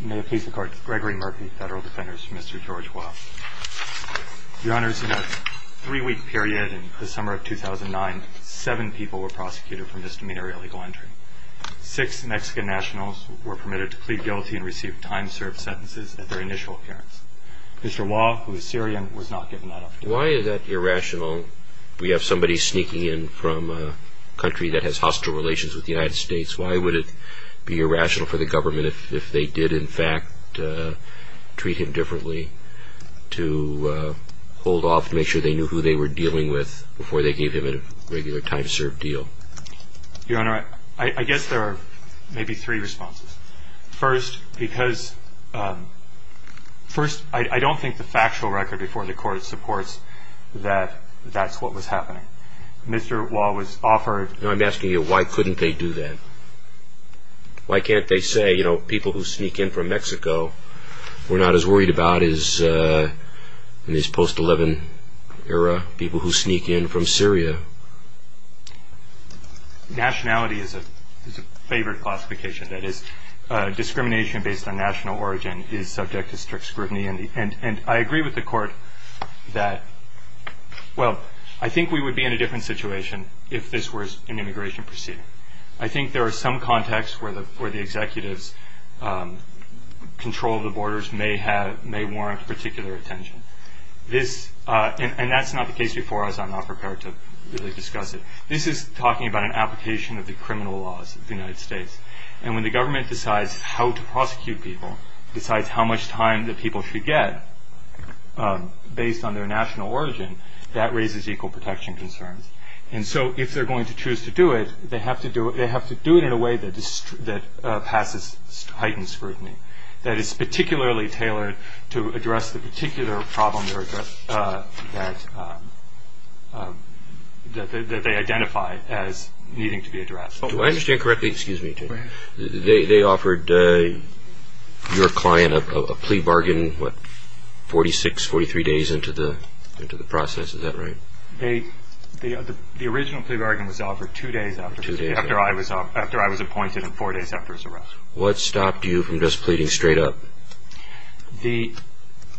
May it please the court, Gregory Murphy, Federal Defenders, Mr. George Waw. Your Honors, in a three-week period in the summer of 2009, seven people were prosecuted for misdemeanor illegal entry. Six Mexican nationals were permitted to plead guilty and received time-served sentences at their initial appearance. Mr. Waw, who is Syrian, was not given that opportunity. Why is that irrational? We have somebody sneaking in from a country that has hostile relations with the United States. Why would it be irrational for the government, if they did in fact treat him differently, to hold off to make sure they knew who they were dealing with before they gave him a regular time-served deal? Your Honor, I guess there are maybe three responses. First, I don't think the factual record before the court supports that that's what was happening. Mr. Waw was offered... No, I'm asking you, why couldn't they do that? Why can't they say, you know, people who sneak in from Mexico were not as worried about as in this post-11 era people who sneak in from Syria? Nationality is a favored classification. That is, discrimination based on national origin is subject to strict scrutiny. And I agree with the court that, well, I think we would be in a different situation if this were an immigration proceeding. I think there are some contexts where the executives' control of the borders may warrant particular attention. And that's not the case before us. I'm not prepared to really discuss it. This is talking about an application of the criminal laws of the United States. And when the government decides how to prosecute people, decides how much time the people should get based on their national origin, that raises equal protection concerns. And so if they're going to choose to do it, they have to do it in a way that passes heightened scrutiny, that is particularly tailored to address the particular problem that they identify as needing to be addressed. Do I understand correctly? Excuse me. They offered your client a plea bargain, what, 46, 43 days into the process. Is that right? The original plea bargain was offered two days after I was appointed and four days after his arrest. What stopped you from just pleading straight up?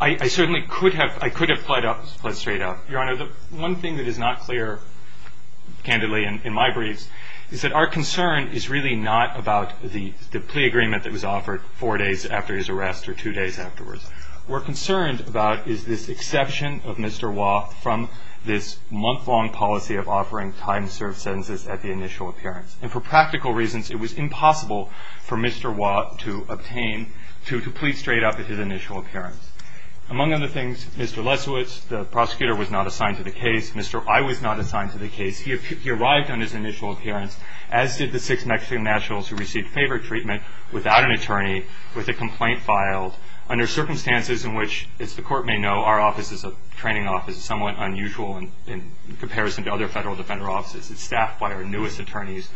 I certainly could have pled straight up. Your Honor, the one thing that is not clear, candidly, in my briefs, is that our concern is really not about the plea agreement that was offered four days after his arrest or two days afterwards. What we're concerned about is this exception of Mr. Wah from this month-long policy of offering time-served sentences at the initial appearance. And for practical reasons, it was impossible for Mr. Wah to obtain to plead straight up at his initial appearance. Among other things, Mr. Lesowitz, the prosecutor, was not assigned to the case. Mr. I was not assigned to the case. He arrived on his initial appearance, as did the six Mexican nationals who received favor treatment without an attorney, with a complaint filed, under circumstances in which, as the Court may know, our office is a training office, somewhat unusual in comparison to other federal defender offices. It's staffed by our newest attorneys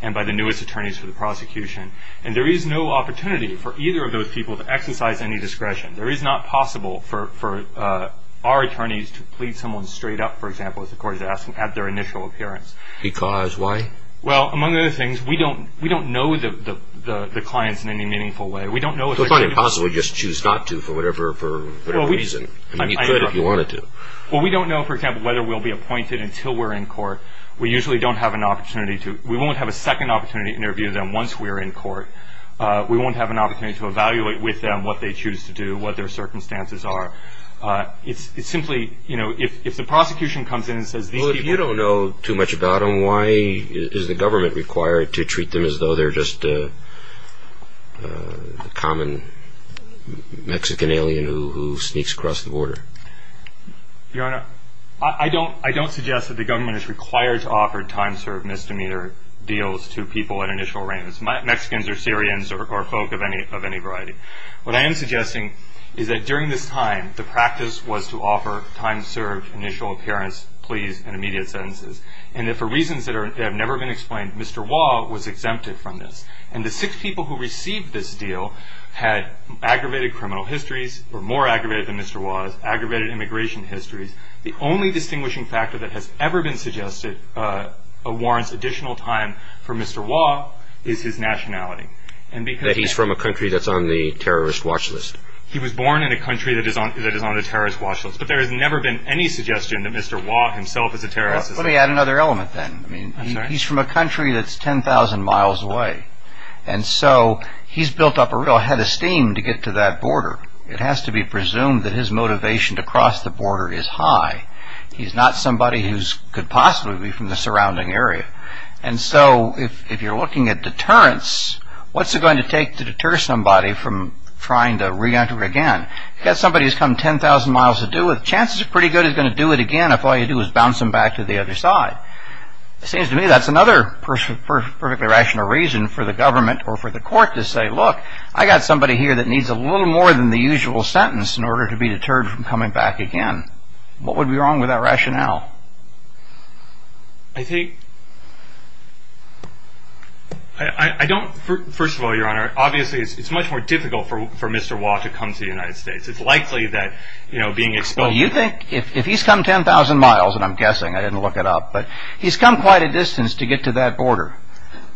and by the newest attorneys for the prosecution. And there is no opportunity for either of those people to exercise any discretion. There is not possible for our attorneys to plead someone straight up, for example, as the Court is asking, at their initial appearance. Because why? Well, among other things, we don't know the clients in any meaningful way. It's not impossible to just choose not to for whatever reason. You could if you wanted to. Well, we don't know, for example, whether we'll be appointed until we're in court. We usually don't have an opportunity to. We won't have a second opportunity to interview them once we're in court. We won't have an opportunity to evaluate with them what they choose to do, what their circumstances are. It's simply, you know, if the prosecution comes in and says these people Well, if you don't know too much about them, why is the government required to treat them as though they're just a common Mexican alien who sneaks across the border? Your Honor, I don't suggest that the government is required to offer time-served misdemeanor deals to people at initial arraignments, Mexicans or Syrians or folk of any variety. What I am suggesting is that during this time, the practice was to offer time-served initial appearance pleas and immediate sentences. And that for reasons that have never been explained, Mr. Waugh was exempted from this. And the six people who received this deal had aggravated criminal histories, were more aggravated than Mr. Waugh's, aggravated immigration histories. The only distinguishing factor that has ever been suggested warrants additional time for Mr. Waugh is his nationality. That he's from a country that's on the terrorist watch list. He was born in a country that is on the terrorist watch list. But there has never been any suggestion that Mr. Waugh himself is a terrorist. Let me add another element then. He's from a country that's 10,000 miles away. And so he's built up a real head of steam to get to that border. It has to be presumed that his motivation to cross the border is high. He's not somebody who could possibly be from the surrounding area. And so if you're looking at deterrence, what's it going to take to deter somebody from trying to re-enter again? You've got somebody who's come 10,000 miles to do it. So chances are pretty good he's going to do it again if all you do is bounce him back to the other side. It seems to me that's another perfectly rational reason for the government or for the court to say, look, I've got somebody here that needs a little more than the usual sentence in order to be deterred from coming back again. What would be wrong with that rationale? I think, I don't, first of all, Your Honor, obviously it's much more difficult for Mr. Waugh to come to the United States. It's likely that being exposed... Well, you think if he's come 10,000 miles, and I'm guessing, I didn't look it up, but he's come quite a distance to get to that border.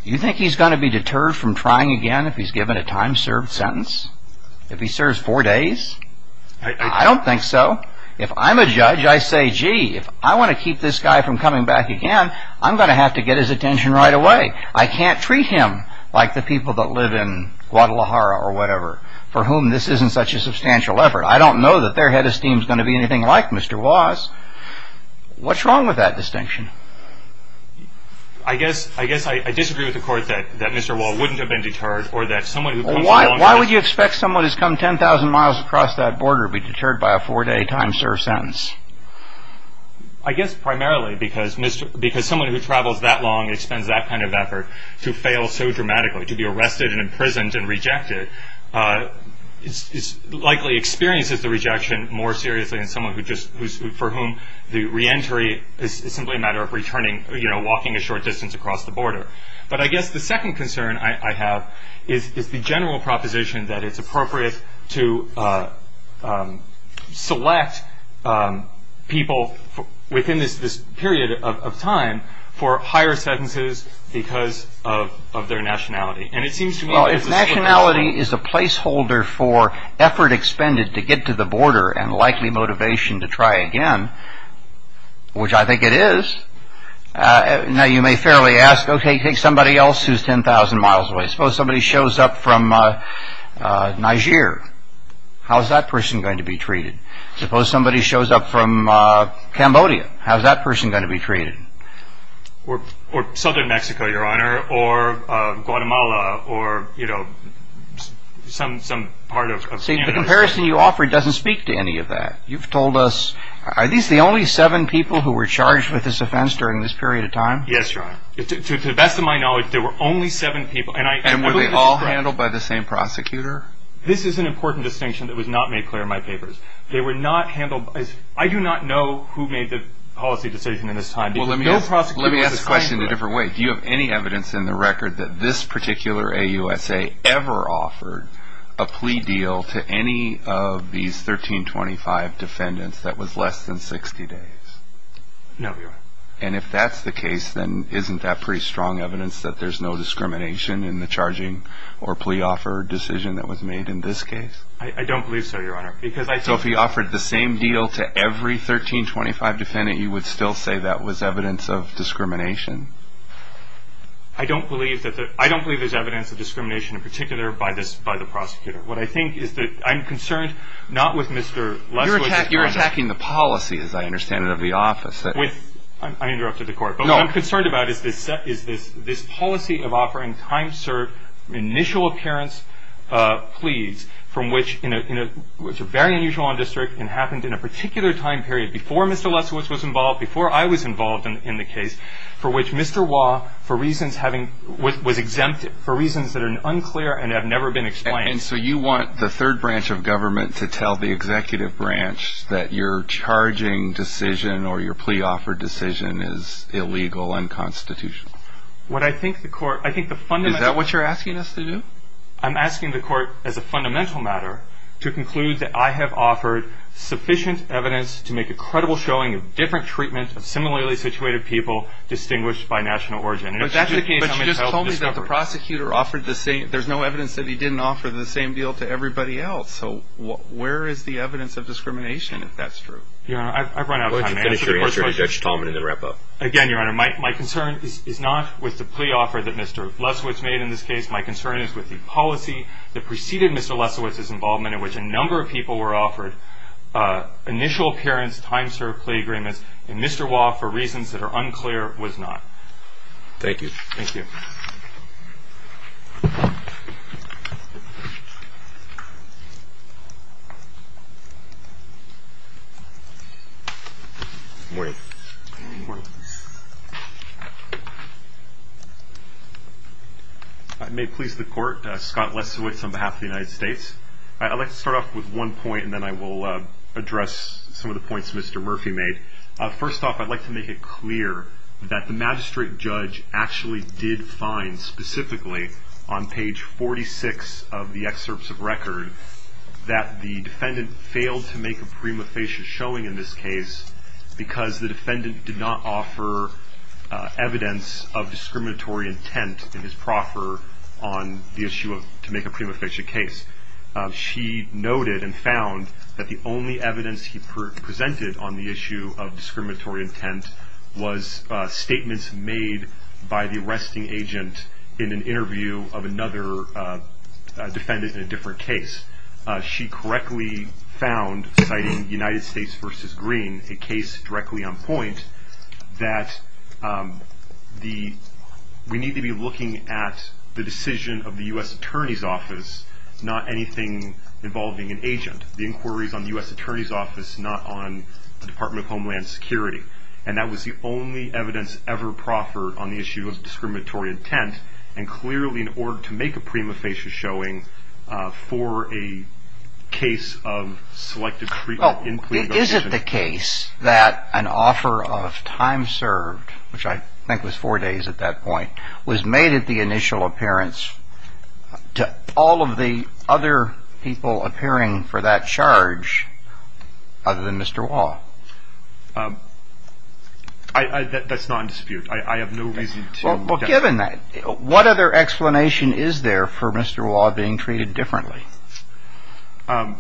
You think he's going to be deterred from trying again if he's given a time-served sentence? If he serves four days? I don't think so. If I'm a judge, I say, gee, if I want to keep this guy from coming back again, I'm going to have to get his attention right away. I can't treat him like the people that live in Guadalajara or whatever for whom this isn't such a substantial effort. I don't know that their head of steam is going to be anything like Mr. Waugh's. What's wrong with that distinction? I guess I disagree with the court that Mr. Waugh wouldn't have been deterred or that someone who comes along... Why would you expect someone who's come 10,000 miles across that border to be deterred by a four-day time-served sentence? I guess primarily because someone who travels that long and spends that kind of effort to fail so dramatically, to be arrested and imprisoned and rejected, likely experiences the rejection more seriously than someone for whom the reentry is simply a matter of returning, walking a short distance across the border. But I guess the second concern I have is the general proposition that it's appropriate to select people within this period of time for higher sentences because of their nationality. Well, if nationality is a placeholder for effort expended to get to the border and likely motivation to try again, which I think it is, now you may fairly ask, OK, take somebody else who's 10,000 miles away. Suppose somebody shows up from Niger. How's that person going to be treated? Suppose somebody shows up from Cambodia. How's that person going to be treated? Or southern Mexico, Your Honor, or Guatemala, or some part of Canada. See, the comparison you offered doesn't speak to any of that. You've told us, are these the only seven people who were charged with this offense during this period of time? Yes, Your Honor. To the best of my knowledge, there were only seven people. And were they all handled by the same prosecutor? This is an important distinction that was not made clear in my papers. I do not know who made the policy decision in this time. Well, let me ask the question in a different way. Do you have any evidence in the record that this particular AUSA ever offered a plea deal to any of these 1325 defendants that was less than 60 days? No, Your Honor. And if that's the case, then isn't that pretty strong evidence that there's no discrimination in the charging or plea offer decision that was made in this case? I don't believe so, Your Honor. So if he offered the same deal to every 1325 defendant, you would still say that was evidence of discrimination? I don't believe there's evidence of discrimination, in particular by the prosecutor. What I think is that I'm concerned not with Mr. Lesley. You're attacking the policy, as I understand it, of the office. I interrupted the court. But what I'm concerned about is this policy of offering time-served, initial-appearance pleas, which are very unusual on district and happened in a particular time period before Mr. Lesley was involved, before I was involved in the case, for which Mr. Wah was exempted for reasons that are unclear and have never been explained. And so you want the third branch of government to tell the executive branch that your charging decision or your plea offer decision is illegal and constitutional? Is that what you're asking us to do? I'm asking the court, as a fundamental matter, to conclude that I have offered sufficient evidence to make a credible showing of different treatment of similarly situated people distinguished by national origin. But you just told me that the prosecutor offered the same. There's no evidence that he didn't offer the same deal to everybody else. So where is the evidence of discrimination, if that's true? Your Honor, I've run out of time. Let's finish your answer to Judge Talman and then wrap up. Again, Your Honor, my concern is not with the plea offer that Mr. Lesley was made in this case. My concern is with the policy that preceded Mr. Lesley's involvement, in which a number of people were offered initial appearance, time served plea agreements, and Mr. Wah, for reasons that are unclear, was not. Thank you. Thank you. I may please the court. Scott Lesowitz on behalf of the United States. I'd like to start off with one point, and then I will address some of the points Mr. Murphy made. First off, I'd like to make it clear that the magistrate judge actually did find specifically on page 46 of the excerpts of record that the defendant failed to make a prima facie showing in this case because the defendant did not offer evidence of discriminatory intent in his proffer on the issue of to make a prima facie case. She noted and found that the only evidence he presented on the issue of discriminatory intent was statements made by the arresting agent in an interview of another defendant in a different case. She correctly found, citing United States v. Green, a case directly on point, that we need to be looking at the decision of the U.S. Attorney's Office, not anything involving an agent. The inquiry is on the U.S. Attorney's Office, not on the Department of Homeland Security. And that was the only evidence ever proffered on the issue of discriminatory intent, and clearly in order to make a prima facie showing for a case of selective plea negotiation. Is it the case that an offer of time served, which I think was four days at that point, was made at the initial appearance to all of the other people appearing for that charge other than Mr. Waugh? That's not in dispute. I have no reason to doubt that. Well, given that, what other explanation is there for Mr. Waugh being treated differently? And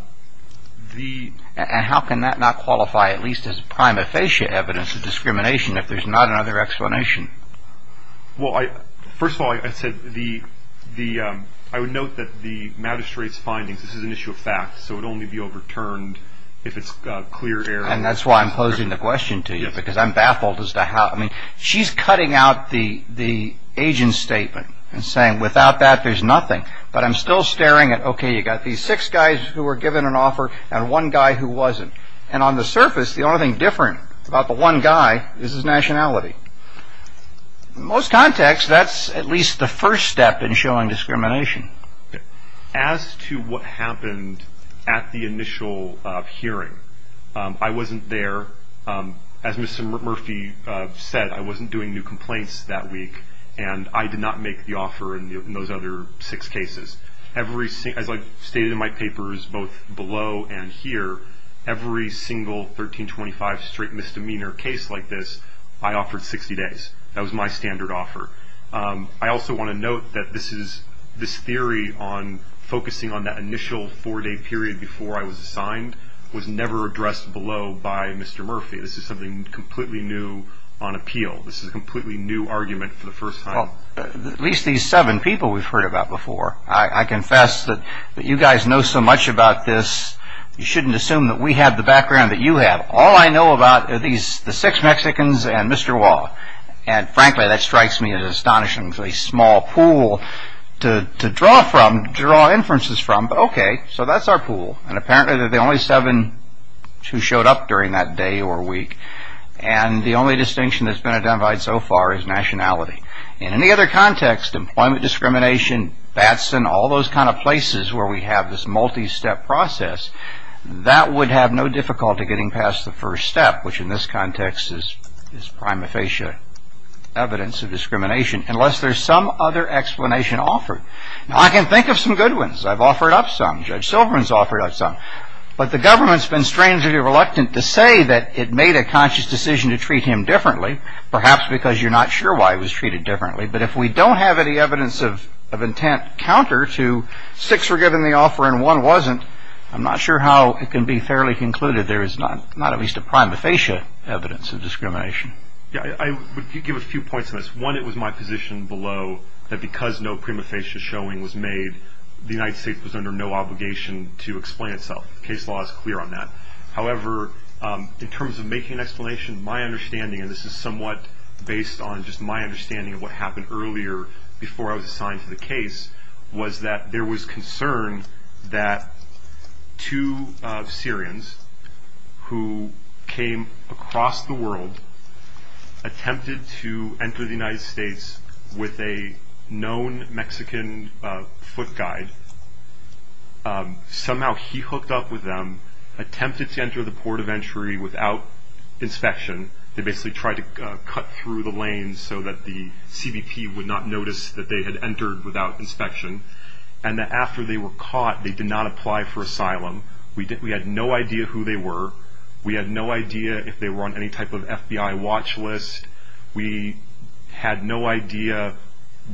how can that not qualify at least as prima facie evidence of discrimination if there's not another explanation? Well, first of all, I would note that the magistrate's findings, this is an issue of fact, so it would only be overturned if it's clear error. And that's why I'm posing the question to you, because I'm baffled as to how. I mean, she's cutting out the agent's statement and saying, without that, there's nothing. But I'm still staring at, okay, you've got these six guys who were given an offer and one guy who wasn't. And on the surface, the only thing different about the one guy is his nationality. In most contexts, that's at least the first step in showing discrimination. As to what happened at the initial hearing, I wasn't there. As Mr. Murphy said, I wasn't doing new complaints that week, and I did not make the offer in those other six cases. As I stated in my papers both below and here, every single 1325 straight misdemeanor case like this, I offered 60 days. That was my standard offer. I also want to note that this theory on focusing on that initial four-day period before I was assigned was never addressed below by Mr. Murphy. This is something completely new on appeal. This is a completely new argument for the first time. Well, at least these seven people we've heard about before. I confess that you guys know so much about this, you shouldn't assume that we have the background that you have. All I know about are the six Mexicans and Mr. Wah. And frankly, that strikes me as an astonishingly small pool to draw inferences from. But okay, so that's our pool, and apparently they're the only seven who showed up during that day or week. And the only distinction that's been identified so far is nationality. In any other context, employment discrimination, Batson, all those kind of places where we have this multi-step process, that would have no difficulty getting past the first step, which in this context is prima facie evidence of discrimination, unless there's some other explanation offered. Now, I can think of some good ones. I've offered up some. Judge Silverman's offered up some. But the government's been strangely reluctant to say that it made a conscious decision to treat him differently, perhaps because you're not sure why it was treated differently. But if we don't have any evidence of intent counter to six were given the offer and one wasn't, I'm not sure how it can be fairly concluded there is not at least a prima facie evidence of discrimination. Yeah, I would give a few points on this. One, it was my position below that because no prima facie showing was made, the United States was under no obligation to explain itself. Case law is clear on that. However, in terms of making an explanation, my understanding, and this is somewhat based on just my understanding of what happened earlier before I was assigned to the case, was that there was concern that two Syrians who came across the world attempted to enter the United States with a known Mexican foot guide. Somehow he hooked up with them, attempted to enter the port of entry without inspection. They basically tried to cut through the lanes so that the CBP would not notice that they had entered without inspection, and that after they were caught, they did not apply for asylum. We had no idea who they were. We had no idea if they were on any type of FBI watch list. We had no idea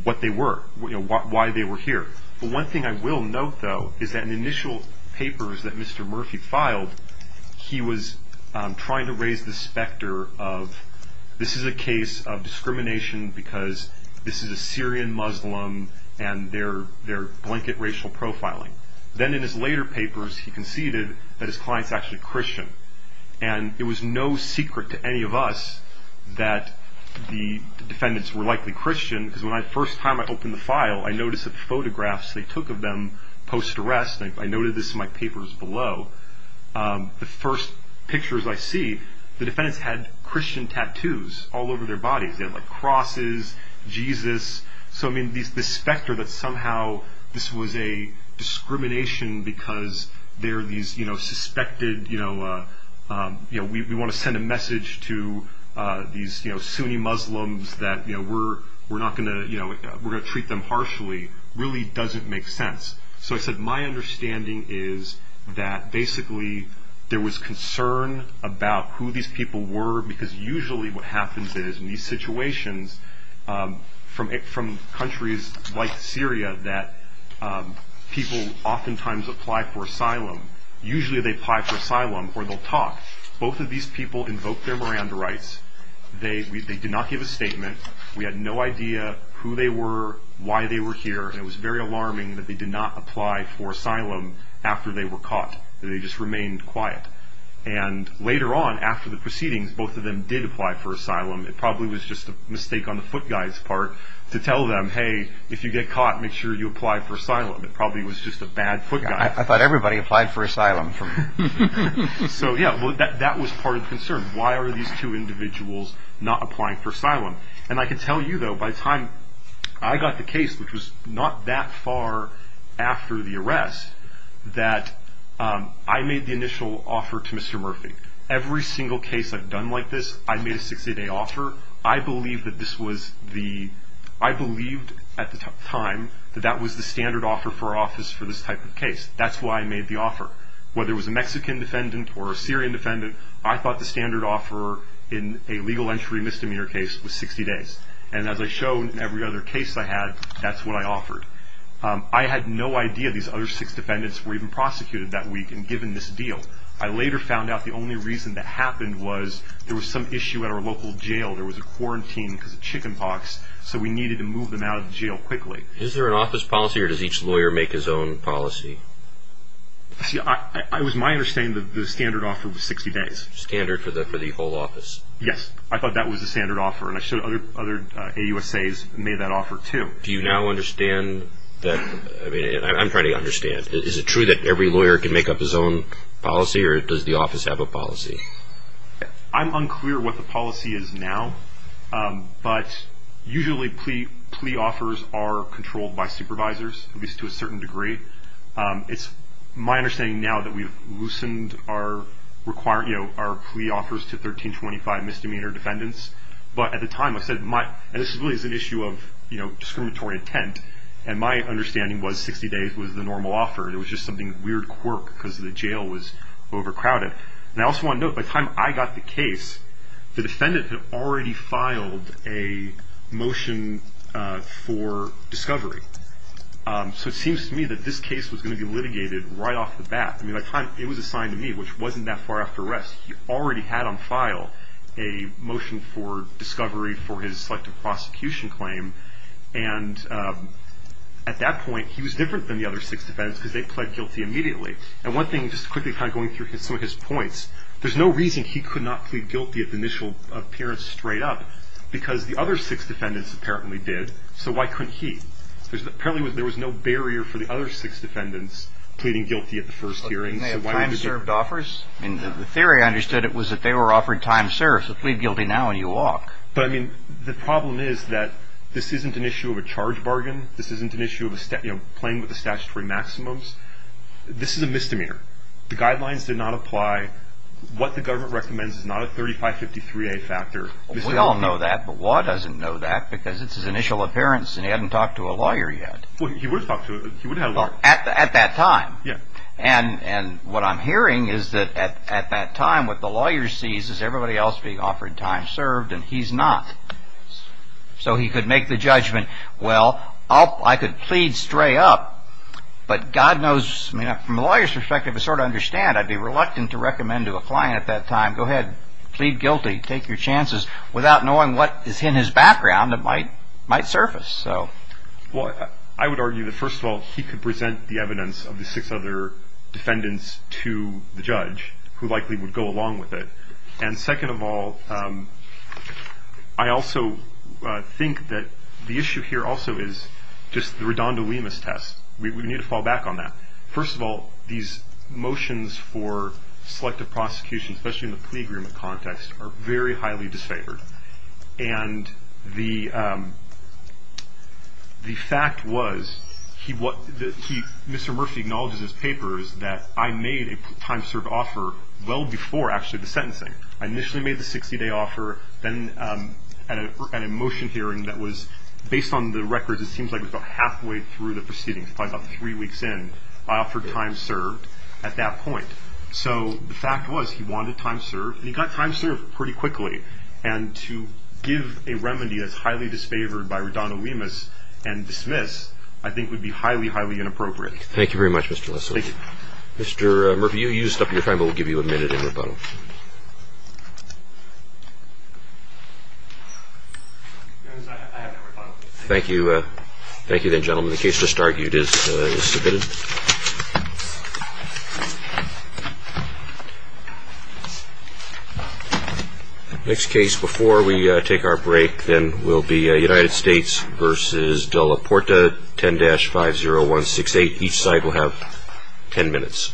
what they were, why they were here. The one thing I will note, though, is that in the initial papers that Mr. Murphy filed, he was trying to raise the specter of this is a case of discrimination because this is a Syrian Muslim and they're blanket racial profiling. Then in his later papers, he conceded that his client is actually a Christian, and it was no secret to any of us that the defendants were likely Christian because the first time I opened the file, I noticed the photographs they took of them post-arrest. I noted this in my papers below. The first pictures I see, the defendants had Christian tattoos all over their bodies. They had crosses, Jesus. The specter that somehow this was a discrimination because we want to send a message to these Sunni Muslims that we're going to treat them harshly really doesn't make sense. I said my understanding is that basically there was concern about who these people were because usually what happens is in these situations from countries like Syria that people oftentimes apply for asylum, usually they apply for asylum or they'll talk. Both of these people invoked their Miranda rights. They did not give a statement. We had no idea who they were, why they were here, and it was very alarming that they did not apply for asylum after they were caught. They just remained quiet. Later on, after the proceedings, both of them did apply for asylum. It probably was just a mistake on the foot guy's part to tell them, hey, if you get caught, make sure you apply for asylum. It probably was just a bad foot guy. I thought everybody applied for asylum. That was part of the concern. Why are these two individuals not applying for asylum? I can tell you, though, by the time I got the case, which was not that far after the arrest, that I made the initial offer to Mr. Murphy. Every single case I've done like this, I made a 60-day offer. I believed at the time that that was the standard offer for office for this type of case. That's why I made the offer. Whether it was a Mexican defendant or a Syrian defendant, I thought the standard offer in a legal entry misdemeanor case was 60 days, and as I've shown in every other case I had, that's what I offered. I had no idea these other six defendants were even prosecuted that week and given this deal. I later found out the only reason that happened was there was some issue at our local jail. There was a quarantine because of chicken pox, so we needed to move them out of jail quickly. Is there an office policy, or does each lawyer make his own policy? See, it was my understanding that the standard offer was 60 days. Standard for the whole office? Yes, I thought that was the standard offer, and I showed other AUSAs made that offer too. Do you now understand that? I'm trying to understand. Is it true that every lawyer can make up his own policy, or does the office have a policy? I'm unclear what the policy is now, but usually plea offers are controlled by supervisors, at least to a certain degree. It's my understanding now that we've loosened our plea offers to 1325 misdemeanor defendants, but at the time I said, and this really is an issue of discriminatory intent, and my understanding was 60 days was the normal offer. It was just something weird quirk because the jail was overcrowded. And I also want to note, by the time I got the case, the defendant had already filed a motion for discovery. So it seems to me that this case was going to be litigated right off the bat. I mean, by the time it was assigned to me, which wasn't that far after arrest, he already had on file a motion for discovery for his selective prosecution claim, and at that point he was different than the other six defendants because they pled guilty immediately. And one thing, just quickly kind of going through some of his points, there's no reason he could not plead guilty at the initial appearance straight up because the other six defendants apparently did, so why couldn't he? Apparently there was no barrier for the other six defendants pleading guilty at the first hearing. The theory I understood was that they were offered time served, so plead guilty now and you walk. But I mean, the problem is that this isn't an issue of a charge bargain. This isn't an issue of playing with the statutory maximums. This is a misdemeanor. The guidelines did not apply. What the government recommends is not a 3553A factor. We all know that, but Waugh doesn't know that because it's his initial appearance, and he hadn't talked to a lawyer yet. He would have talked to a lawyer. At that time. Yeah. And what I'm hearing is that at that time what the lawyer sees is everybody else being offered time served and he's not. So he could make the judgment, well, I could plead straight up, but God knows, from a lawyer's perspective I sort of understand I'd be reluctant to recommend to a client at that time, go ahead, plead guilty, take your chances, without knowing what is in his background that might surface. Well, I would argue that, first of all, he could present the evidence of the six other defendants to the judge, who likely would go along with it. And second of all, I also think that the issue here also is just the redondolemus test. We need to fall back on that. First of all, these motions for selective prosecution, especially in the plea agreement context, are very highly disfavored. And the fact was Mr. Murphy acknowledges in his papers that I made a time served offer well before actually the sentencing. I initially made the 60-day offer. Then at a motion hearing that was based on the records, it seems like it was about halfway through the proceedings, probably about three weeks in, I offered time served at that point. So the fact was he wanted time served and he got time served pretty quickly. And to give a remedy that's highly disfavored by redondolemus and dismiss, I think, would be highly, highly inappropriate. Thank you very much, Mr. Leslie. Thank you. Mr. Murphy, you used up your time, but we'll give you a minute in rebuttal. Thank you. Thank you, then, gentlemen. The case just argued is submitted. Thank you. Next case before we take our break, then, will be United States v. De La Porta, 10-50168. Each side will have ten minutes.